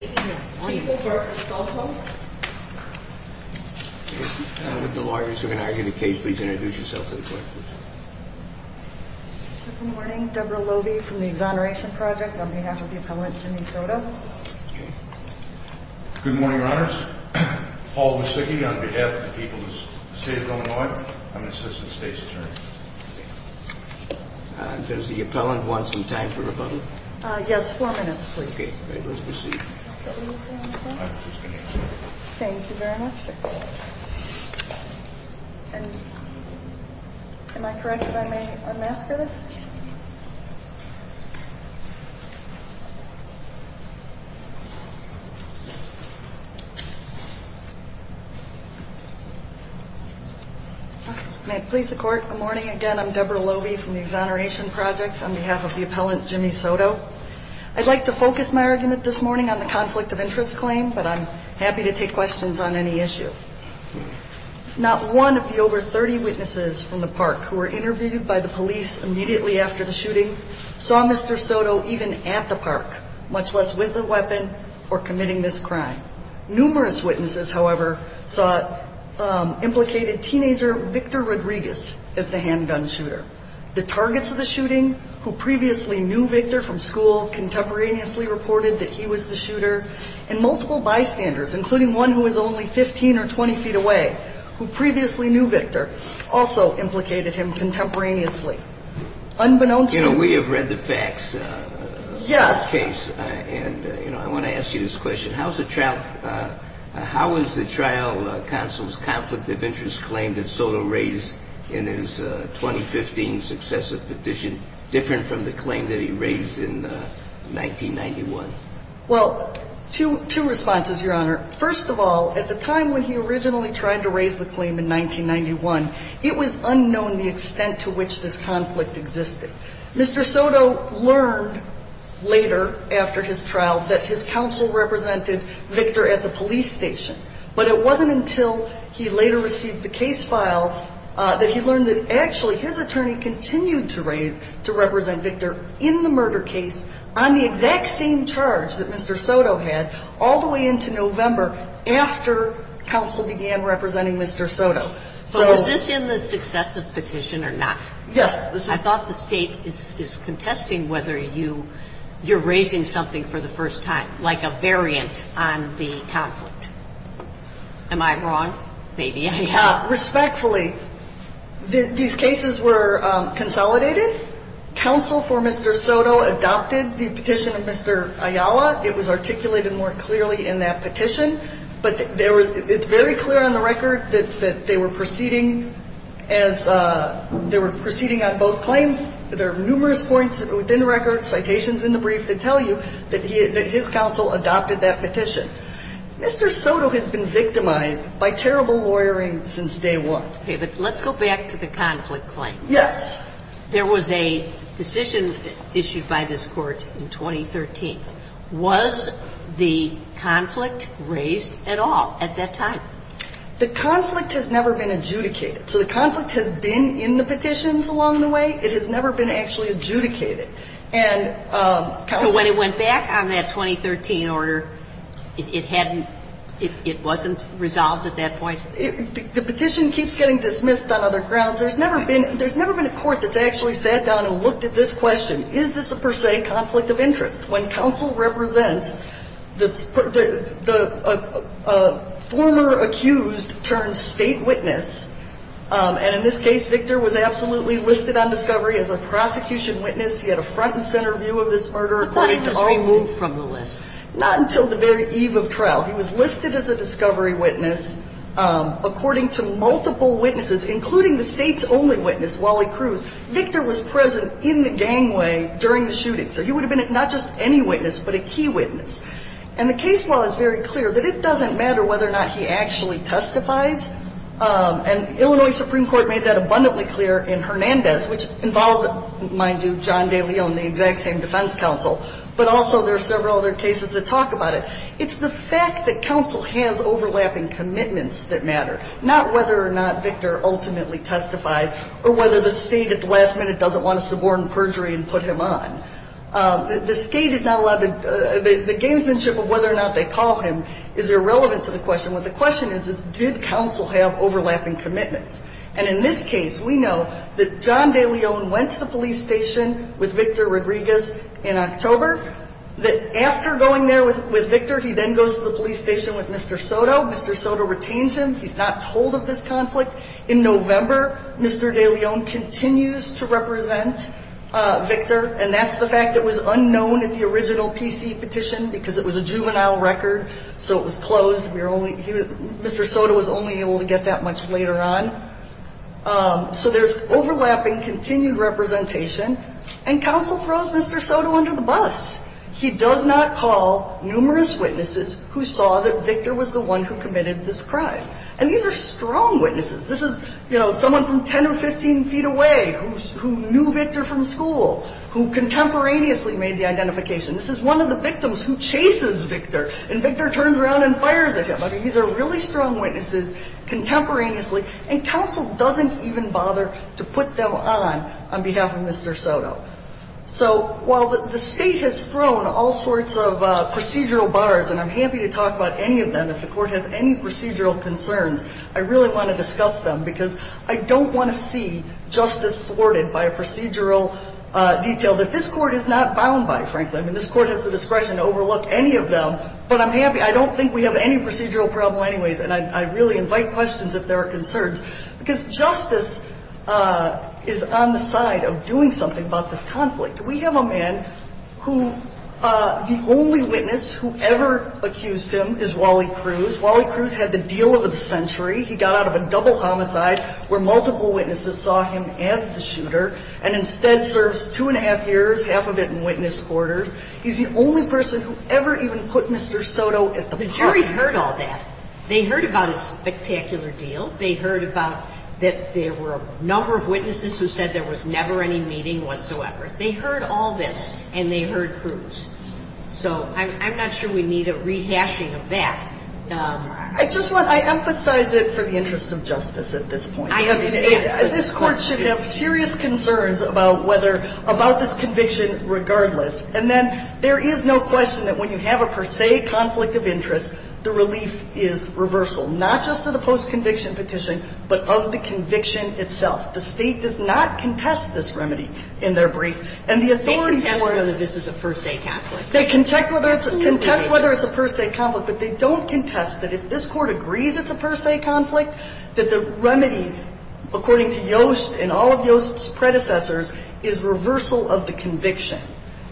Good morning, your honors. Paul Musicki on behalf of the people of the state of Illinois. I'm an assistant state's attorney. Does the appellant want some time for rebuttal? Yes, four minutes, please. Okay, let's proceed. Thank you very much, sir. And am I correct if I may unmask her? Yes, you may. May it please the court, good morning again. I'm Deborah Lobey from the Exoneration Project on behalf of the appellant Jimmy Soto. I'd like to focus my argument this morning on the conflict of interest claim, but I'm happy to take questions on any issue. Not one of the over 30 witnesses from the park who were interviewed by the police immediately after the shooting saw Mr. Soto even at the park, much less with a weapon or committing this crime. Numerous witnesses, however, saw implicated teenager Victor Rodriguez as the handgun shooter. The targets of the shooting, who previously knew Victor from school, contemporaneously reported that he was the shooter, and multiple bystanders, including one who was only 15 or 20 feet away, who previously knew Victor, also implicated him contemporaneously. You know, we have read the facts of the case, and I want to ask you this question. How is the trial counsel's conflict of interest claim that Soto raised in his 2015 successive petition different from the claim that he raised in 1991? Well, two responses, Your Honor. First of all, at the time when he originally tried to raise the claim in 1991, it was unknown the extent to which this conflict existed. Mr. Soto learned later after his trial that his counsel represented Victor at the police station, but it wasn't until he later received the case files that he learned that actually his attorney continued to represent Victor in the murder case on the exact same charge that Mr. Soto had all the way into November after counsel began representing Mr. Soto. So was this in the successive petition or not? Yes. I thought the State is contesting whether you're raising something for the first time, like a variant on the conflict. Am I wrong? Maybe. Respectfully, these cases were consolidated. Counsel for Mr. Soto adopted the petition of Mr. Ayala. It was articulated more clearly in that petition, but it's very clear on the record that they were proceeding as they were proceeding on both claims. There are numerous points within the record, citations in the brief that tell you that his counsel adopted that petition. Mr. Soto has been victimized by terrible lawyering since day one. Okay, but let's go back to the conflict claim. Yes. There was a decision issued by this Court in 2013. Was the conflict raised at all at that time? The conflict has never been adjudicated. So the conflict has been in the petitions along the way. It has never been actually adjudicated. So when it went back on that 2013 order, it hadn't – it wasn't resolved at that point? The petition keeps getting dismissed on other grounds. There's never been – there's never been a court that's actually sat down and looked at this question. Is this a per se conflict of interest? When counsel represents the former accused turned State witness, and in this case Victor was absolutely listed on discovery as a prosecution witness. He had a front and center view of this murder, according to all – But that he was removed from the list. Not until the very eve of trial. He was listed as a discovery witness, according to multiple witnesses, including the State's only witness, Wally Cruz. Victor was present in the gangway during the shooting. So he would have been not just any witness, but a key witness. And the case law is very clear that it doesn't matter whether or not he actually testifies. And Illinois Supreme Court made that abundantly clear in Hernandez, which involved, mind you, John DeLeon, the exact same defense counsel. But also there are several other cases that talk about it. It's the fact that counsel has overlapping commitments that matter, not whether or not Victor ultimately testifies, or whether the State at the last minute doesn't want to subordinate perjury and put him on. The State is not allowed to – the gamesmanship of whether or not they call him is irrelevant to the question. What the question is, is did counsel have overlapping commitments? And in this case, we know that John DeLeon went to the police station with Victor Rodriguez in October. That after going there with Victor, he then goes to the police station with Mr. Soto. Mr. Soto retains him. He's not told of this conflict. In November, Mr. DeLeon continues to represent Victor. And that's the fact that it was unknown at the original PC petition because it was a juvenile record. So it was closed. We were only – Mr. Soto was only able to get that much later on. So there's overlapping continued representation. And counsel throws Mr. Soto under the bus. He does not call numerous witnesses who saw that Victor was the one who committed this crime. And these are strong witnesses. This is, you know, someone from 10 or 15 feet away who knew Victor from school, who contemporaneously made the identification. This is one of the victims who chases Victor. And Victor turns around and fires at him. I mean, these are really strong witnesses contemporaneously. And counsel doesn't even bother to put them on on behalf of Mr. Soto. So while the State has thrown all sorts of procedural bars, and I'm happy to talk about any of them if the Court has any procedural concerns, I really want to discuss them because I don't want to see justice thwarted by a procedural detail that this Court is not bound by, frankly. I mean, this Court has the discretion to overlook any of them. But I'm happy – I don't think we have any procedural problem anyways. And I really invite questions if there are concerns because justice is on the side of doing something about this conflict. We have a man who – the only witness who ever accused him is Wally Cruz. Wally Cruz had the deal of the century. He got out of a double homicide where multiple witnesses saw him as the shooter and instead serves two and a half years, half of it in witness quarters. He's the only person who ever even put Mr. Soto at the park. The jury heard all that. They heard about his spectacular deal. They heard about that there were a number of witnesses who said there was never any meeting whatsoever. They heard all this, and they heard Cruz. So I'm not sure we need a rehashing of that. I just want – I emphasize it for the interest of justice at this point. I understand. This Court should have serious concerns about whether – about this conviction regardless. And then there is no question that when you have a per se conflict of interest, the relief is reversal, not just to the post-conviction petition, but of the conviction itself. The State does not contest this remedy in their brief. And the authority – They contest whether this is a per se conflict. They contest whether it's a per se conflict, but they don't contest that if this Court agrees it's a per se conflict, that the remedy, according to Yost and all of Yost's predecessors, is reversal of the conviction.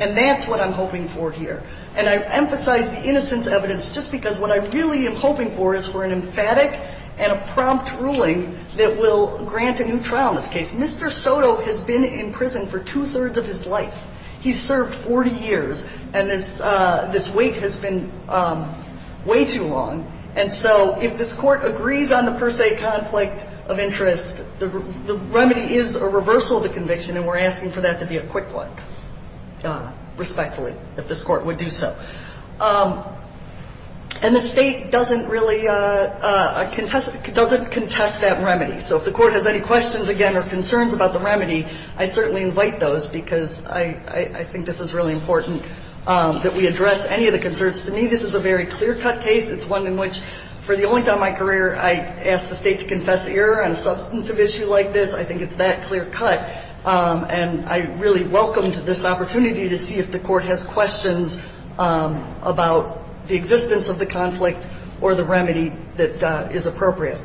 And that's what I'm hoping for here. And I emphasize the innocence evidence just because what I really am hoping for is for an emphatic and a prompt ruling that will grant a new trial in this case. Mr. Soto has been in prison for two-thirds of his life. He's served 40 years, and this wait has been way too long. And so if this Court agrees on the per se conflict of interest, the remedy is a reversal of the conviction, and we're asking for that to be a quick one, respectfully, if this Court would do so. And the State doesn't really – doesn't contest that remedy. So if the Court has any questions again or concerns about the remedy, I certainly invite those because I think this is really important that we address any of the concerns. To me, this is a very clear-cut case. It's one in which, for the only time in my career, I asked the State to confess error on a substantive issue like this. I think it's that clear-cut. And I really welcome this opportunity to see if the Court has questions about the existence of the conflict or the remedy that is appropriate.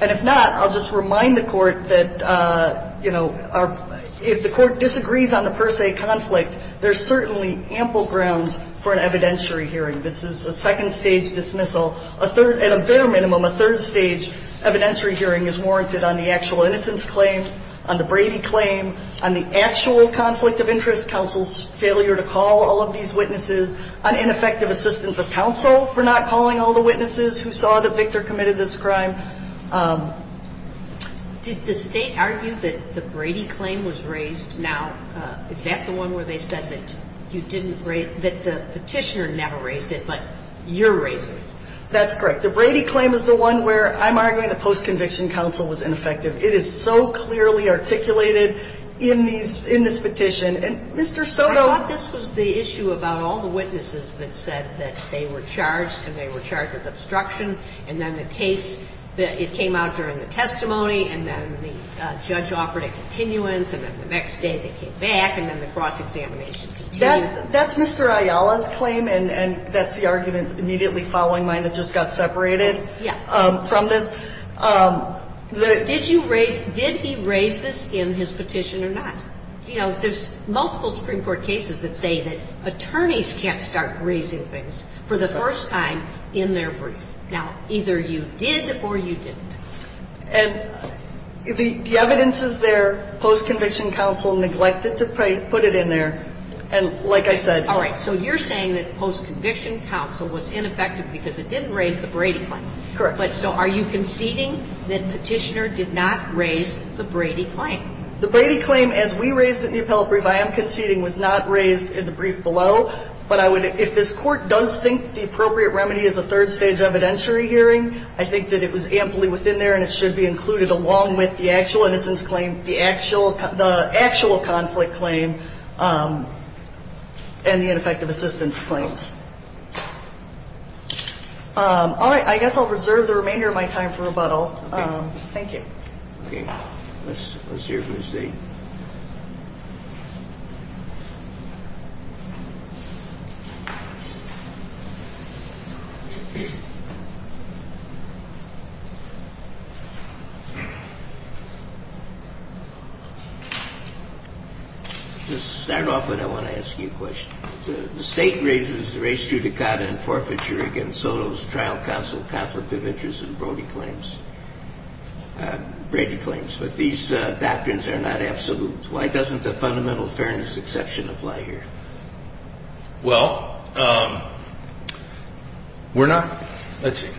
And if not, I'll just remind the Court that, you know, if the Court disagrees on the per se conflict, there's certainly ample grounds for an evidentiary hearing. This is a second-stage dismissal. A third – at a bare minimum, a third-stage evidentiary hearing is warranted on the actual innocence claim, on the Brady claim, on the actual conflict of interest, counsel's failure to call all of these witnesses, on ineffective assistance of counsel for not calling all the witnesses who saw that Victor committed this crime. Did the State argue that the Brady claim was raised? Now, is that the one where they said that you didn't raise – that the Petitioner never raised it, but you're raising it? That's correct. The Brady claim is the one where, I'm arguing, the post-conviction counsel was ineffective. It is so clearly articulated in these – in this petition. And, Mr. Soto – I thought this was the issue about all the witnesses that said that they were charged and they were charged with obstruction, and then the case – it came out during the testimony, and then the judge offered a continuance, and then the next day they came back, and then the cross-examination continued. That's Mr. Ayala's claim, and that's the argument immediately following mine that just got separated from this. Yes. Did you raise – did he raise this in his petition or not? You know, there's multiple Supreme Court cases that say that attorneys can't start raising things for the first time in their brief. Now, either you did or you didn't. And the evidence is there. Post-conviction counsel neglected to put it in there, and like I said – All right. So you're saying that post-conviction counsel was ineffective because it didn't raise the Brady claim. Correct. But so are you conceding that Petitioner did not raise the Brady claim? The Brady claim, as we raised it in the appellate brief, I am conceding was not raised in the brief below, but I would – if this Court does think the appropriate remedy is a third-stage evidentiary hearing, I think that it was amply within there and it should be included along with the actual innocence claim, the actual conflict claim, and the ineffective assistance claims. All right. I guess I'll reserve the remainder of my time for rebuttal. Okay. Thank you. Okay. Let's hear from the State. To start off with, I want to ask you a question. The State raises race judicata and forfeiture against Soto's trial counsel conflict of interest and Brody claims – Brady claims. But these doctrines are not absolute. Why doesn't the fundamental fairness exception apply here? Well, we're not – let's see.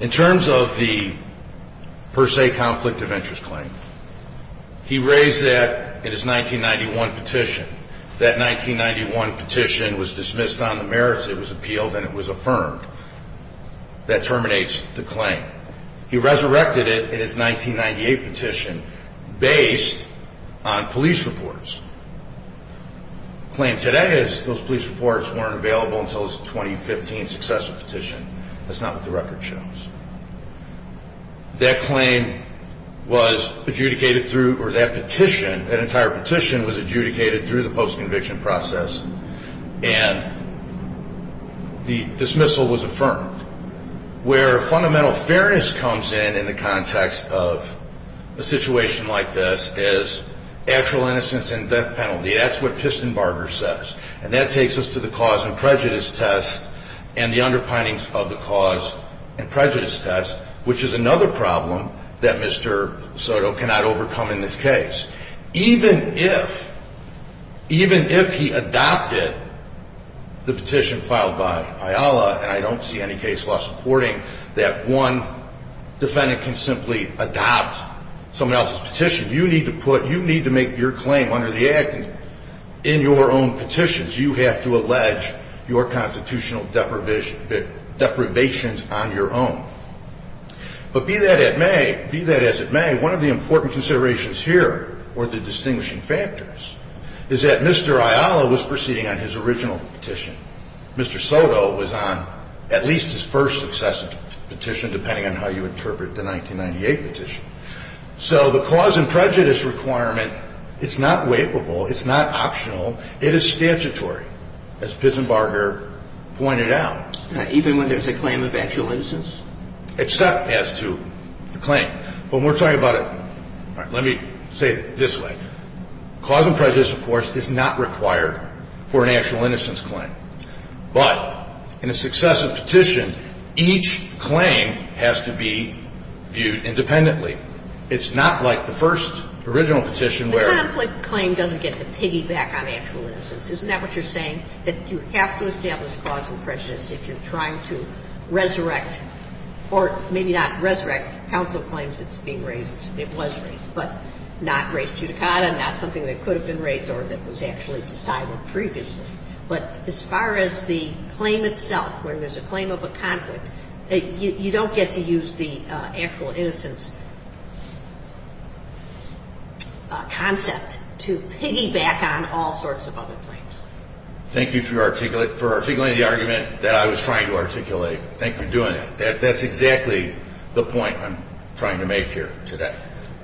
In terms of the per se conflict of interest claim, he raised that in his 1991 petition. That 1991 petition was dismissed on the merits. It was appealed and it was affirmed. That terminates the claim. He resurrected it in his 1998 petition based on police reports. The claim today is those police reports weren't available until his 2015 successor petition. That's not what the record shows. That claim was adjudicated through – or that petition, that entire petition was adjudicated through the post-conviction process and the dismissal was affirmed. Where fundamental fairness comes in in the context of a situation like this is actual innocence and death penalty. That's what Pistenbarger says. And that takes us to the cause and prejudice test and the underpinnings of the cause and prejudice test, which is another problem that Mr. Soto cannot overcome in this case. Even if – even if he adopted the petition filed by IALA, and I don't see any case law supporting that one defendant can simply adopt someone else's petition, you need to put – you need to make your claim under the Act in your own petitions. You have to allege your constitutional deprivations on your own. But be that as it may, one of the important considerations here or the distinguishing factors is that Mr. IALA was proceeding on his original petition. Mr. Soto was on at least his first successor petition, depending on how you interpret the 1998 petition. So the cause and prejudice requirement is not waivable. It's not optional. It is statutory, as Pistenbarger pointed out. Even when there's a claim of actual innocence? Except as to the claim. When we're talking about a – all right, let me say it this way. Cause and prejudice, of course, is not required for an actual innocence claim. But in a successive petition, each claim has to be viewed independently. It's not like the first original petition where – The conflict claim doesn't get to piggyback on actual innocence. Isn't that what you're saying, that you have to establish cause and prejudice if you're trying to resurrect or maybe not resurrect council claims that's being raised, it was raised, but not raised judicata, not something that could have been raised or that was actually decided previously. But as far as the claim itself, when there's a claim of a conflict, you don't get to use the actual innocence concept to piggyback on all sorts of other claims. Thank you for articulating the argument that I was trying to articulate. Thank you for doing that. That's exactly the point I'm trying to make here today.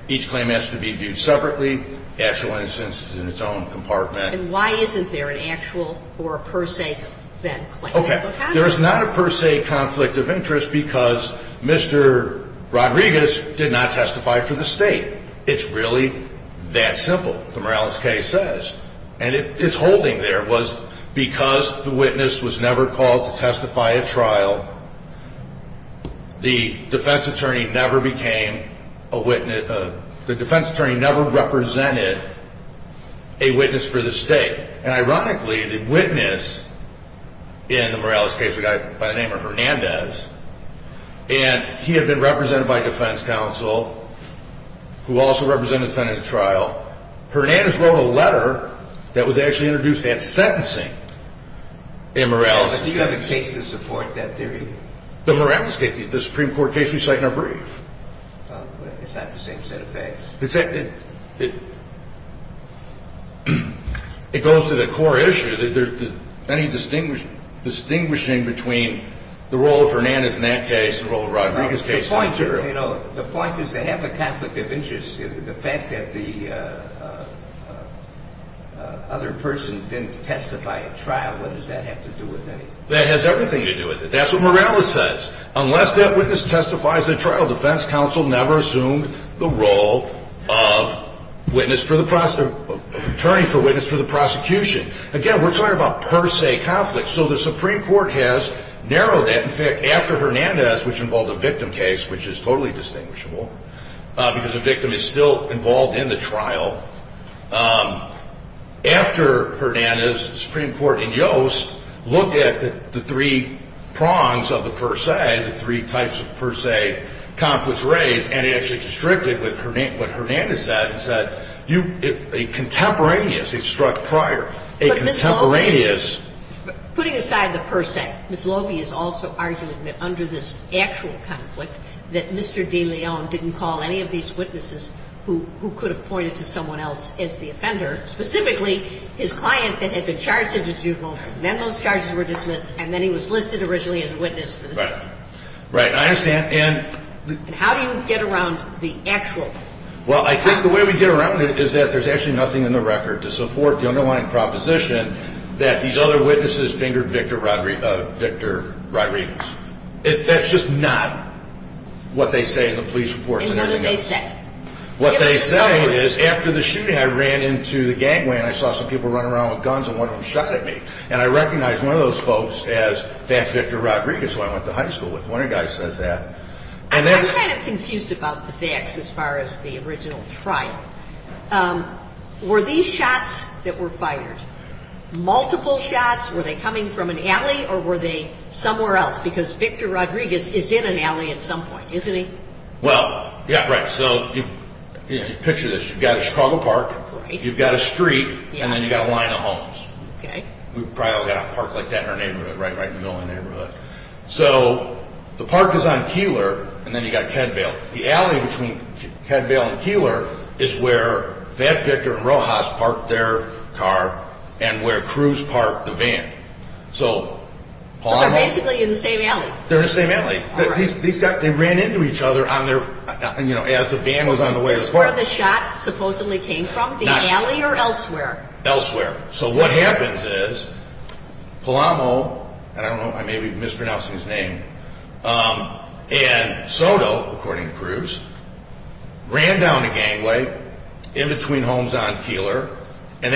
Each claim has to be viewed separately. Actual innocence is in its own compartment. And why isn't there an actual or a per se then claim? Okay. There is not a per se conflict of interest because Mr. Rodriguez did not testify for the state. It's really that simple, the Morales case says. And it's holding there was because the witness was never called to testify at trial, the defense attorney never represented a witness for the state. And ironically, the witness in the Morales case, a guy by the name of Hernandez, and he had been represented by defense counsel who also represented the defendant at trial. Hernandez wrote a letter that was actually introduced at sentencing in Morales' case. But do you have a case to support that theory? The Morales case, the Supreme Court case we cite in our brief. It's not the same set of facts. It goes to the core issue. Any distinguishing between the role of Hernandez in that case and the role of Rodriguez case. The point is they have a conflict of interest. The fact that the other person didn't testify at trial, what does that have to do with anything? That has everything to do with it. That's what Morales says. Unless that witness testifies at trial, defense counsel never assumed the role of attorney for witness for the prosecution. Again, we're talking about per se conflict. So the Supreme Court has narrowed that. In fact, after Hernandez, which involved a victim case, which is totally distinguishable, because a victim is still involved in the trial. After Hernandez, the Supreme Court in Yost looked at the three prongs of the per se, the three types of per se conflicts raised, and it actually constricted with what Hernandez said. It said a contemporaneous, a struck prior, a contemporaneous. And that's what the case is. Putting aside the per se, Ms. Lovey is also arguing that under this actual conflict, that Mr. DeLeon didn't call any of these witnesses who could have pointed to someone else as the offender, specifically his client that had been charged as a juvenile. Then those charges were dismissed, and then he was listed originally as a witness. Right. Right. I understand. And how do you get around the actual? Well, I think the way we get around it is that there's actually nothing in the record to support the underlying proposition that these other witnesses fingered Victor Rodriguez. That's just not what they say in the police reports and everything else. And what did they say? What they say is, after the shooting, I ran into the gangway, and I saw some people running around with guns, and one of them shot at me. And I recognize one of those folks as Vance Victor Rodriguez, who I went to high school with. One of the guys says that. I'm kind of confused about the facts as far as the original trial. Were these shots that were fired multiple shots? Were they coming from an alley, or were they somewhere else? Because Victor Rodriguez is in an alley at some point, isn't he? Well, yeah, right. So you picture this. You've got a Chicago park. Right. You've got a street. Yeah. And then you've got a line of homes. Okay. We've probably all got a park like that in our neighborhood, right? Right in the only neighborhood. So the park is on Keeler, and then you've got Cadvale. The alley between Cadvale and Keeler is where Vance Victor and Rojas parked their car and where Cruz parked the van. So they're basically in the same alley. They're in the same alley. They ran into each other as the van was on the way to the park. Is this where the shots supposedly came from, the alley or elsewhere? Elsewhere. So what happens is Palamo, and I don't know, I may be mispronouncing his name, and Soto, according to Cruz, ran down the gangway in between homes on Keeler, and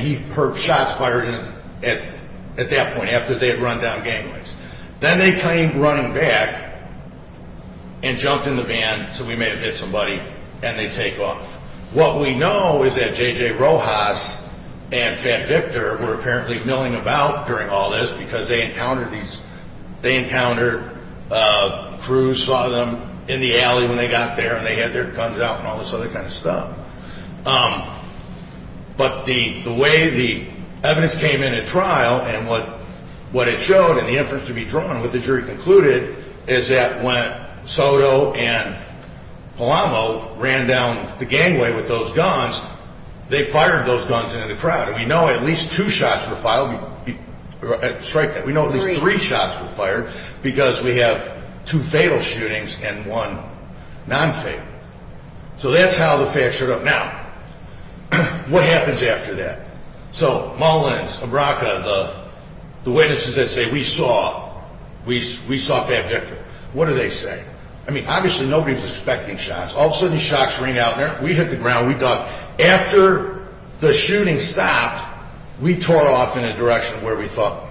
he heard shots fired at that point after they had run down gangways. Then they came running back and jumped in the van, so we may have hit somebody, and they take off. What we know is that J.J. Rojas and Van Victor were apparently milling about during all this because they encountered Cruz, saw them in the alley when they got there, and they had their guns out and all this other kind of stuff. But the way the evidence came in at trial and what it showed and the inference to be drawn, what the jury concluded, is that when Soto and Palamo ran down the gangway with those guns, they fired those guns into the crowd, and we know at least two shots were fired. We know at least three shots were fired because we have two fatal shootings and one nonfatal. So that's how the facts showed up. Now, what happens after that? So Mullins, Abraka, the witnesses that say, we saw Fab Victor, what do they say? I mean, obviously nobody was expecting shots. All of a sudden shots ring out there. We hit the ground. We thought after the shooting stopped, we tore off in a direction where we thought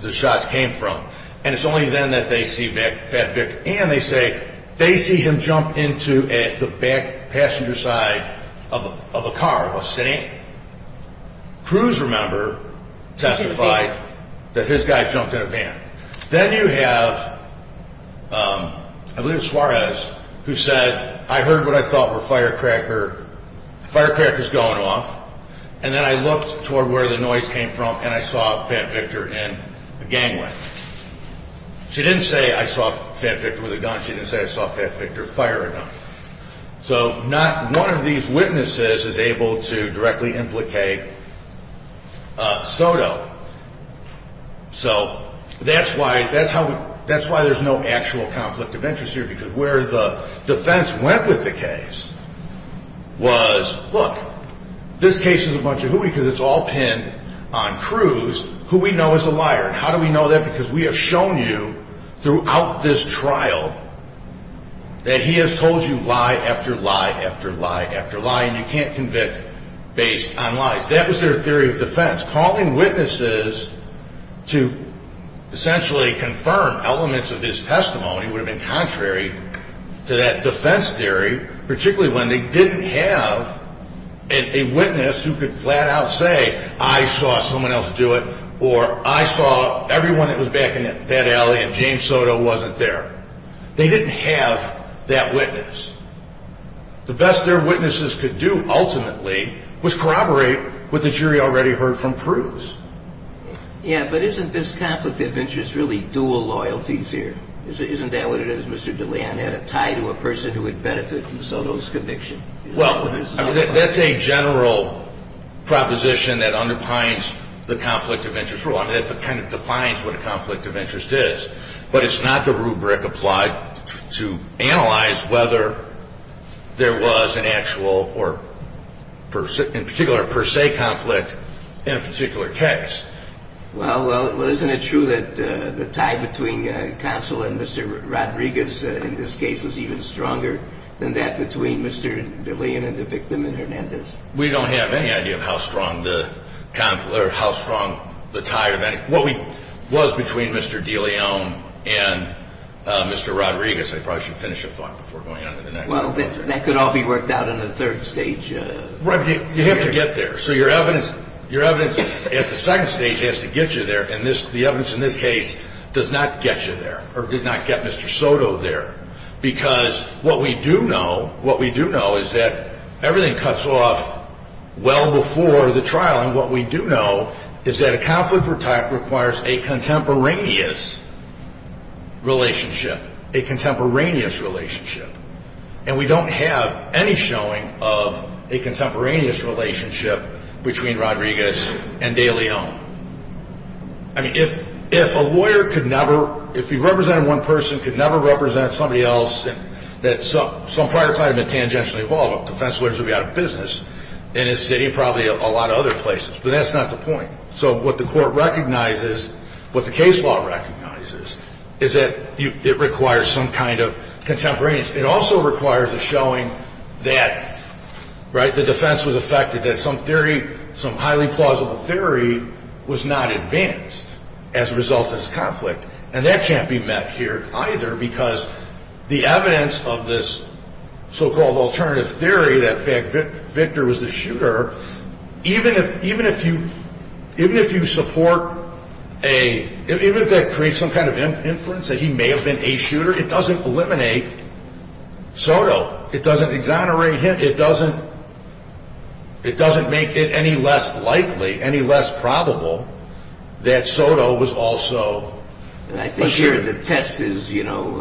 the shots came from, and it's only then that they see Fab Victor, and they say they see him jump into the back passenger side of a car, of a city. Cruz, remember, testified that his guy jumped in a van. Then you have, I believe it was Suarez, who said, I heard what I thought were firecrackers going off, and then I looked toward where the noise came from, and I saw Fab Victor in the gangway. She didn't say I saw Fab Victor with a gun. She didn't say I saw Fab Victor fire a gun. So not one of these witnesses is able to directly implicate Soto. So that's why there's no actual conflict of interest here, because where the defense went with the case was, look, this case is a bunch of hooey because it's all pinned on Cruz, who we know is a liar. How do we know that? Because we have shown you throughout this trial that he has told you lie after lie after lie after lie, and you can't convict based on lies. That was their theory of defense. Calling witnesses to essentially confirm elements of his testimony would have been contrary to that defense theory, particularly when they didn't have a witness who could flat-out say, I saw someone else do it, or I saw everyone that was back in that alley and James Soto wasn't there. They didn't have that witness. The best their witnesses could do, ultimately, was corroborate what the jury already heard from Cruz. Yeah, but isn't this conflict of interest really dual loyalties here? Isn't that what it is, Mr. DeLeon, that a tie to a person who would benefit from Soto's conviction? Well, that's a general proposition that underpins the conflict of interest rule. I mean, it kind of defines what a conflict of interest is, but it's not the rubric applied to analyze whether there was an actual or, in particular, a per se conflict in a particular case. Well, isn't it true that the tie between Counsel and Mr. Rodriguez in this case was even stronger than that between Mr. DeLeon and the victim in Hernandez? We don't have any idea of how strong the tie or what was between Mr. DeLeon and Mr. Rodriguez. I probably should finish a thought before going on to the next one. Well, that could all be worked out in the third stage. Right, but you have to get there. So your evidence at the second stage has to get you there, and the evidence in this case does not get you there or did not get Mr. Soto there because what we do know is that everything cuts off well before the trial, and what we do know is that a conflict of type requires a contemporaneous relationship, a contemporaneous relationship, and we don't have any showing of a contemporaneous relationship between Rodriguez and DeLeon. I mean, if a lawyer could never, if he represented one person, could never represent somebody else that some prior client had been tangentially involved with, defense lawyers would be out of business in his city and probably a lot of other places, but that's not the point. So what the court recognizes, what the case law recognizes, is that it requires some kind of contemporaneous. It also requires a showing that, right, the defense was affected, that some theory, some highly plausible theory was not advanced as a result of this conflict, and that can't be met here either because the evidence of this so-called alternative theory, that Victor was the shooter, even if you support a, even if that creates some kind of inference that he may have been a shooter, it doesn't eliminate Soto. It doesn't exonerate him. It doesn't make it any less likely, any less probable that Soto was also a shooter. And I think here the test is, you know,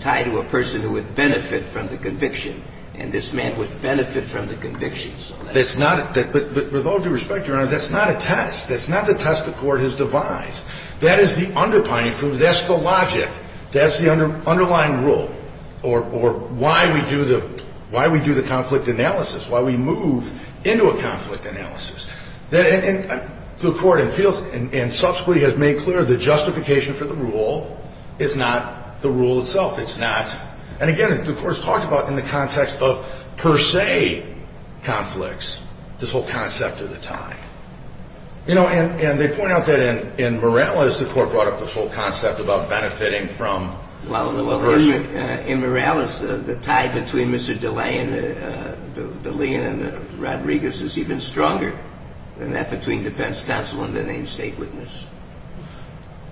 tied to a person who would benefit from the conviction, and this man would benefit from the conviction. That's not, but with all due respect, Your Honor, that's not a test. That's not the test the court has devised. That is the underpinning, that's the logic. That's the underlying rule or why we do the conflict analysis, why we move into a conflict analysis. The court feels and subsequently has made clear the justification for the rule is not the rule itself. It's not, and again, the court has talked about in the context of per se conflicts, this whole concept of the time. You know, and they point out that in Morales, the court brought up this whole concept about benefiting from a person. Well, in Morales, the tie between Mr. Deleon and Rodriguez is even stronger than that between defense counsel and the named state witness.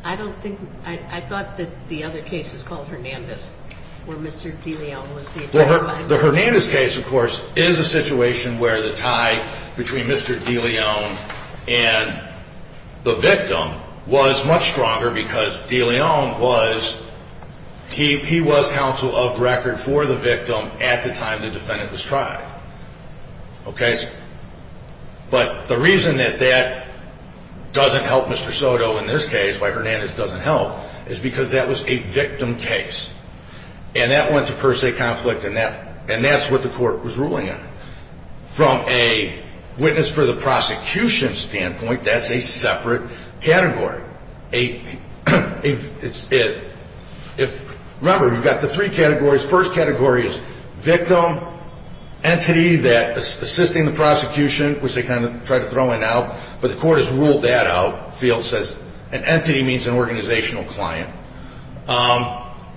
I don't think, I thought that the other case was called Hernandez, where Mr. Deleon was the attorney. The Hernandez case, of course, is a situation where the tie between Mr. Deleon and the victim was much stronger because Deleon was, he was counsel of record for the victim at the time the defendant was tried. Okay, but the reason that that doesn't help Mr. Soto in this case, why Hernandez doesn't help, is because that was a victim case. And that went to per se conflict, and that's what the court was ruling on. From a witness for the prosecution standpoint, that's a separate category. Remember, you've got the three categories. First category is victim, entity that is assisting the prosecution, which they kind of tried to throw in now, but the court has ruled that out. The field says an entity means an organizational client.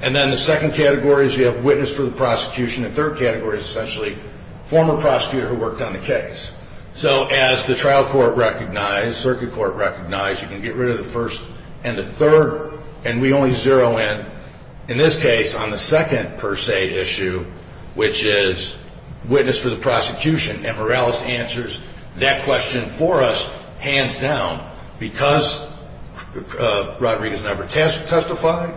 And then the second category is you have witness for the prosecution. The third category is essentially former prosecutor who worked on the case. So as the trial court recognized, circuit court recognized, you can get rid of the first and the third, and we only zero in, in this case, on the second per se issue, which is witness for the prosecution. And Morales answers that question for us hands down. Because Rodriguez never testified,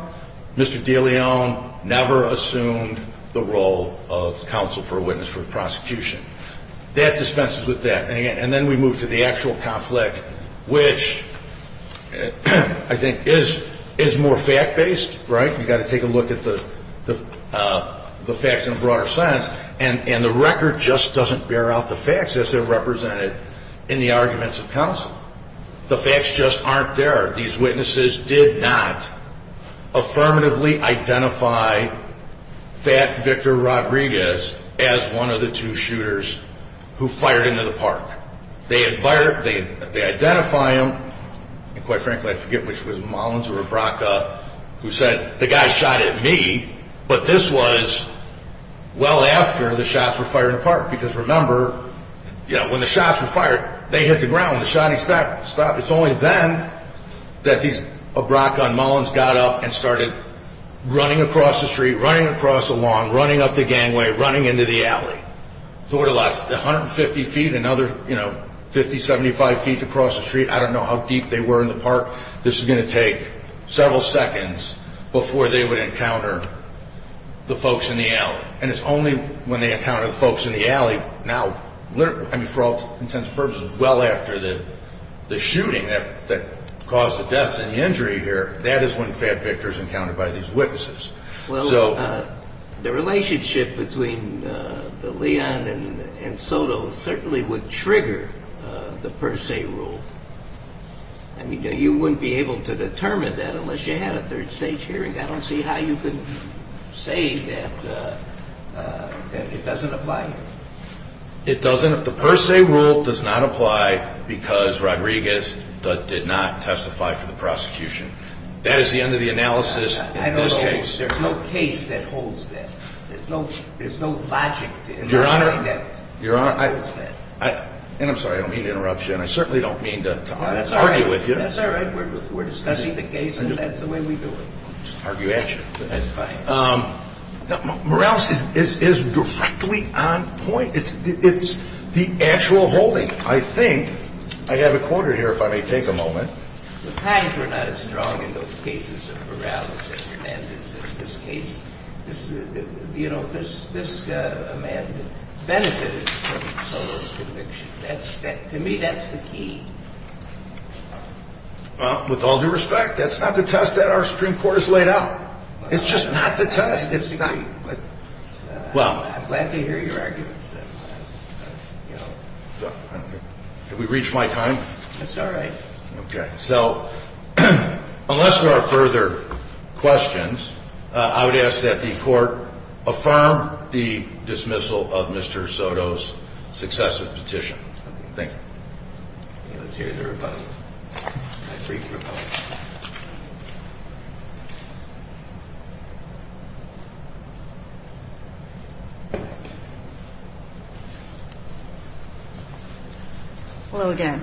Mr. Deleon never assumed the role of counsel for a witness for the prosecution. That dispenses with that. And then we move to the actual conflict, which I think is more fact-based, right? You've got to take a look at the facts in a broader sense. And the record just doesn't bear out the facts as they're represented in the arguments of counsel. The facts just aren't there. These witnesses did not affirmatively identify that Victor Rodriguez as one of the two shooters who fired into the park. They had fired, they identify him, and quite frankly, I forget which was Mullins or Abraka, who said, the guy shot at me, but this was well after the shots were fired in the park. Because remember, you know, when the shots were fired, they hit the ground. When the shotting stopped, it's only then that these Abraka and Mullins got up and started running across the street, running across the lawn, running up the gangway, running into the alley. So what it lasts, 150 feet, another, you know, 50, 75 feet to cross the street. I don't know how deep they were in the park. This is going to take several seconds before they would encounter the folks in the alley. And it's only when they encounter the folks in the alley now, I mean, for all intents and purposes, well after the shooting that caused the deaths and the injury here, that is when fat Victor is encountered by these witnesses. Well, the relationship between the Leon and Soto certainly would trigger the per se rule. I mean, you wouldn't be able to determine that unless you had a third stage hearing. I don't see how you can say that it doesn't apply. It doesn't. The per se rule does not apply because Rodriguez did not testify for the prosecution. That is the end of the analysis in this case. There's no case that holds that. There's no logic to it. Your Honor, I'm sorry, I don't mean to interrupt you, and I certainly don't mean to argue with you. That's all right. We're discussing the case, and that's the way we do it. I'll just argue at you. That's fine. Morales is directly on point. It's the actual holding. I think I have a quarter here, if I may take a moment. The times were not as strong in those cases of Morales and Hernandez as this case. You know, this man benefited from Soto's conviction. To me, that's the key. Well, with all due respect, that's not the test that our Supreme Court has laid out. It's just not the test. It's not. I'm glad to hear your arguments. Have we reached my time? It's all right. Okay. So unless there are further questions, I would ask that the Court affirm the dismissal of Mr. Soto's successive petition. Thank you. Let's hear the rebuttal. Hello again.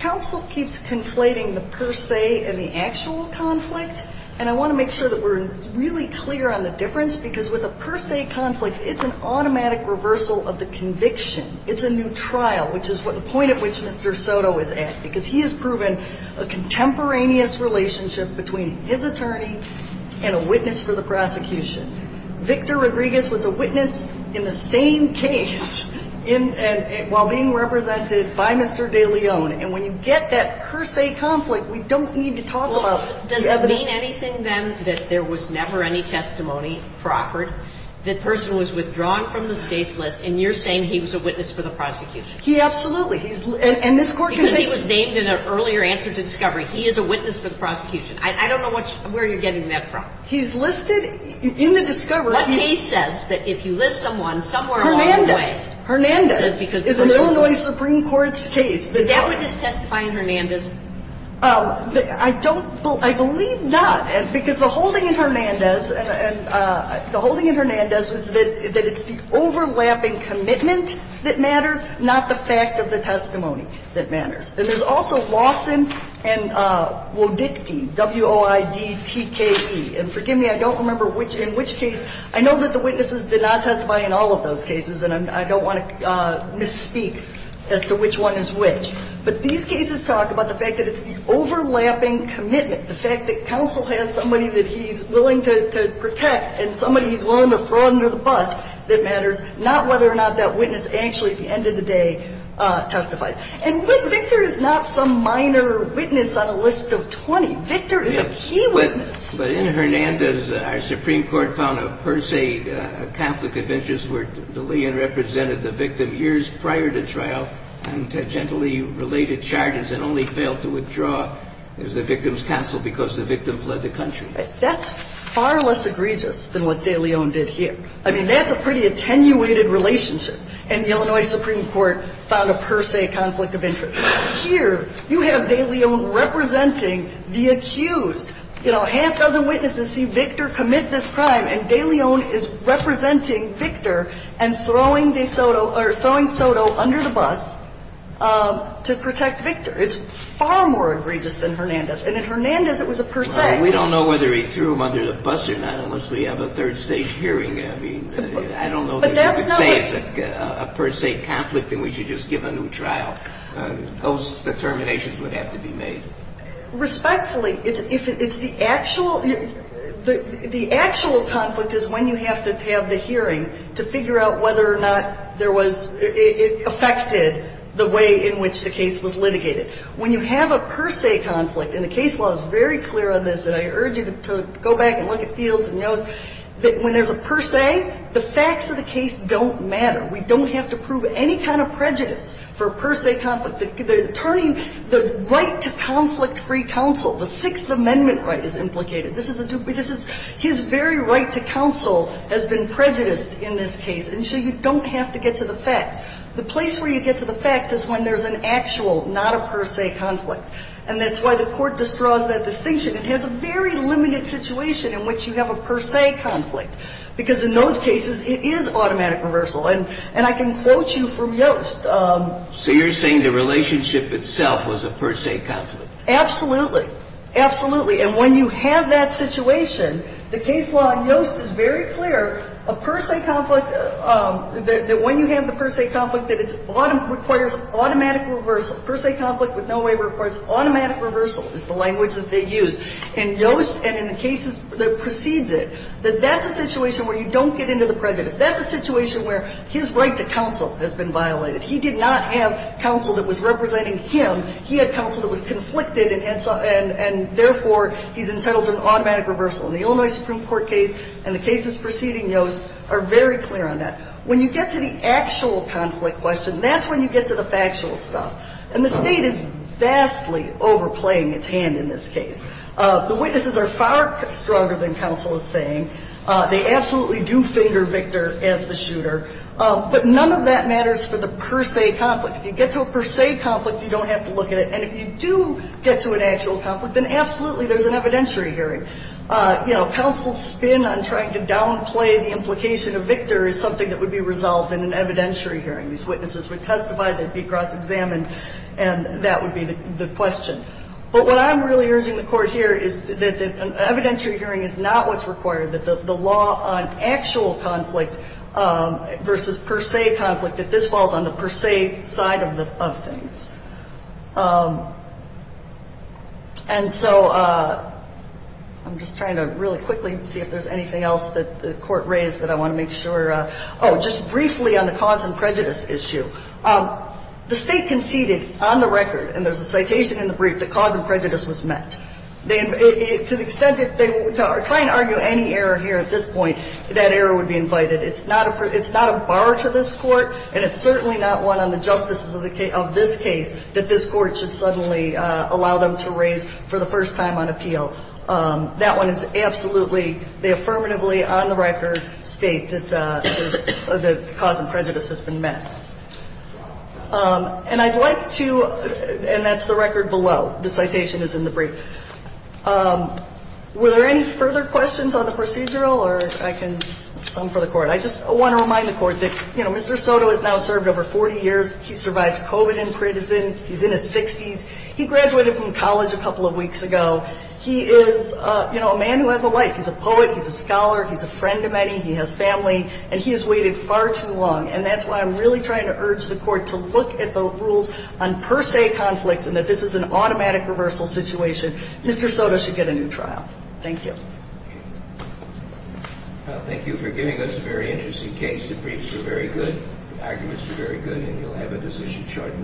Counsel keeps conflating the per se and the actual conflict, and I want to make sure that we're really clear on the difference, because with a per se conflict, it's an automatic reversal of the conviction. It's a new trial, which is the point at which Mr. Soto is at, because he has proven a contemporaneous relationship between his attorney and a witness for the prosecution. Victor Rodriguez was a witness in the same case while being represented by Mr. De Leon. And when you get that per se conflict, we don't need to talk about the other. Well, does it mean anything, then, that there was never any testimony, Procord, the person was withdrawn from the state's list, and you're saying he was a witness for the prosecution? He absolutely. And this Court can say he was named in an earlier answer to discovery. He is a witness for the prosecution. I don't know where you're getting that from. He's listed in the discovery. What case says that if you list someone somewhere along the way? Hernandez. Hernandez is an Illinois Supreme Court's case. Did that witness testify in Hernandez? I don't – I believe not, because the holding in Hernandez, and the holding in Hernandez was that it's the overlapping commitment that matters, not the fact of the testimony that matters. And there's also Lawson and Woditke, W-O-I-D-T-K-E. And forgive me, I don't remember which – in which case – I know that the witnesses did not testify in all of those cases, and I don't want to misspeak as to which one is which. But these cases talk about the fact that it's the overlapping commitment, the fact that counsel has somebody that he's willing to protect and somebody he's willing to throw under the bus that matters, not whether or not that witness actually at the end of the day testifies. And Victor is not some minor witness on a list of 20. Victor is a key witness. But in Hernandez, our Supreme Court found a per se conflict of interest where the liaison represented the victim years prior to trial on tangentially related charges and only failed to withdraw as the victim's counsel because the victim fled the country. That's far less egregious than what de Leon did here. I mean, that's a pretty attenuated relationship. And the Illinois Supreme Court found a per se conflict of interest. Here, you have de Leon representing the accused. You know, a half dozen witnesses see Victor commit this crime, and de Leon is representing Victor and throwing de Soto – or throwing Soto under the bus to protect Victor. It's far more egregious than Hernandez. And in Hernandez, it was a per se. Kennedy. Well, we don't know whether he threw him under the bus or not unless we have a third stage hearing. I mean, I don't know that you could say it's a per se conflict and we should just give a new trial. Those determinations would have to be made. Respectfully, it's the actual – the actual conflict is when you have to have the hearing to figure out whether or not there was – it affected the way in which the case was litigated. When you have a per se conflict, and the case law is very clear on this, and I urge you to go back and look at Fields and Yost, that when there's a per se, the facts of the case don't matter. We don't have to prove any kind of prejudice for a per se conflict. Turning the right to conflict-free counsel, the Sixth Amendment right, is implicated. This is a – his very right to counsel has been prejudiced in this case, and so you don't have to get to the facts. The place where you get to the facts is when there's an actual, not a per se conflict. And that's why the Court distraught that distinction. It has a very limited situation in which you have a per se conflict, because in those cases, it is automatic reversal. And I can quote you from Yost. So you're saying the relationship itself was a per se conflict? Absolutely. Absolutely. And when you have that situation, the case law on Yost is very clear, a per se conflict – that when you have the per se conflict, that it requires automatic reversal. Automatic reversal is the language that they use. And Yost, and in the cases that precedes it, that that's a situation where you don't get into the prejudice. That's a situation where his right to counsel has been violated. He did not have counsel that was representing him. He had counsel that was conflicted, and therefore, he's entitled to an automatic reversal. And the Illinois Supreme Court case and the cases preceding Yost are very clear on that. When you get to the actual conflict question, that's when you get to the factual stuff. And the State is vastly overplaying its hand in this case. The witnesses are far stronger than counsel is saying. They absolutely do finger Victor as the shooter. But none of that matters for the per se conflict. If you get to a per se conflict, you don't have to look at it. And if you do get to an actual conflict, then absolutely there's an evidentiary hearing. You know, counsel's spin on trying to downplay the implication of Victor is something that would be resolved in an evidentiary hearing. These witnesses would testify. They'd be cross-examined. And that would be the question. But what I'm really urging the Court here is that an evidentiary hearing is not what's required, that the law on actual conflict versus per se conflict, that this falls on the per se side of things. And so I'm just trying to really quickly see if there's anything else that the Court raised that I want to make sure of. Oh, just briefly on the cause and prejudice issue. The State conceded on the record, and there's a citation in the brief, that cause and prejudice was met. To the extent that they are trying to argue any error here at this point, that error would be invited. It's not a bar to this Court, and it's certainly not one on the justices of this case that this Court should suddenly allow them to raise for the first time on appeal. So that one is absolutely the affirmatively on-the-record State that the cause and prejudice has been met. And I'd like to – and that's the record below. The citation is in the brief. Were there any further questions on the procedural? Or I can sum for the Court. I just want to remind the Court that, you know, Mr. Soto has now served over 40 years. He survived COVID in prison. He's in his 60s. He graduated from college a couple of weeks ago. He is, you know, a man who has a life. He's a poet. He's a scholar. He's a friend to many. He has family. And he has waited far too long. And that's why I'm really trying to urge the Court to look at the rules on per se conflicts and that this is an automatic reversal situation. Mr. Soto should get a new trial. Thank you. Thank you for giving us a very interesting case. The arguments were very good. And you'll have a decision chart in a minute.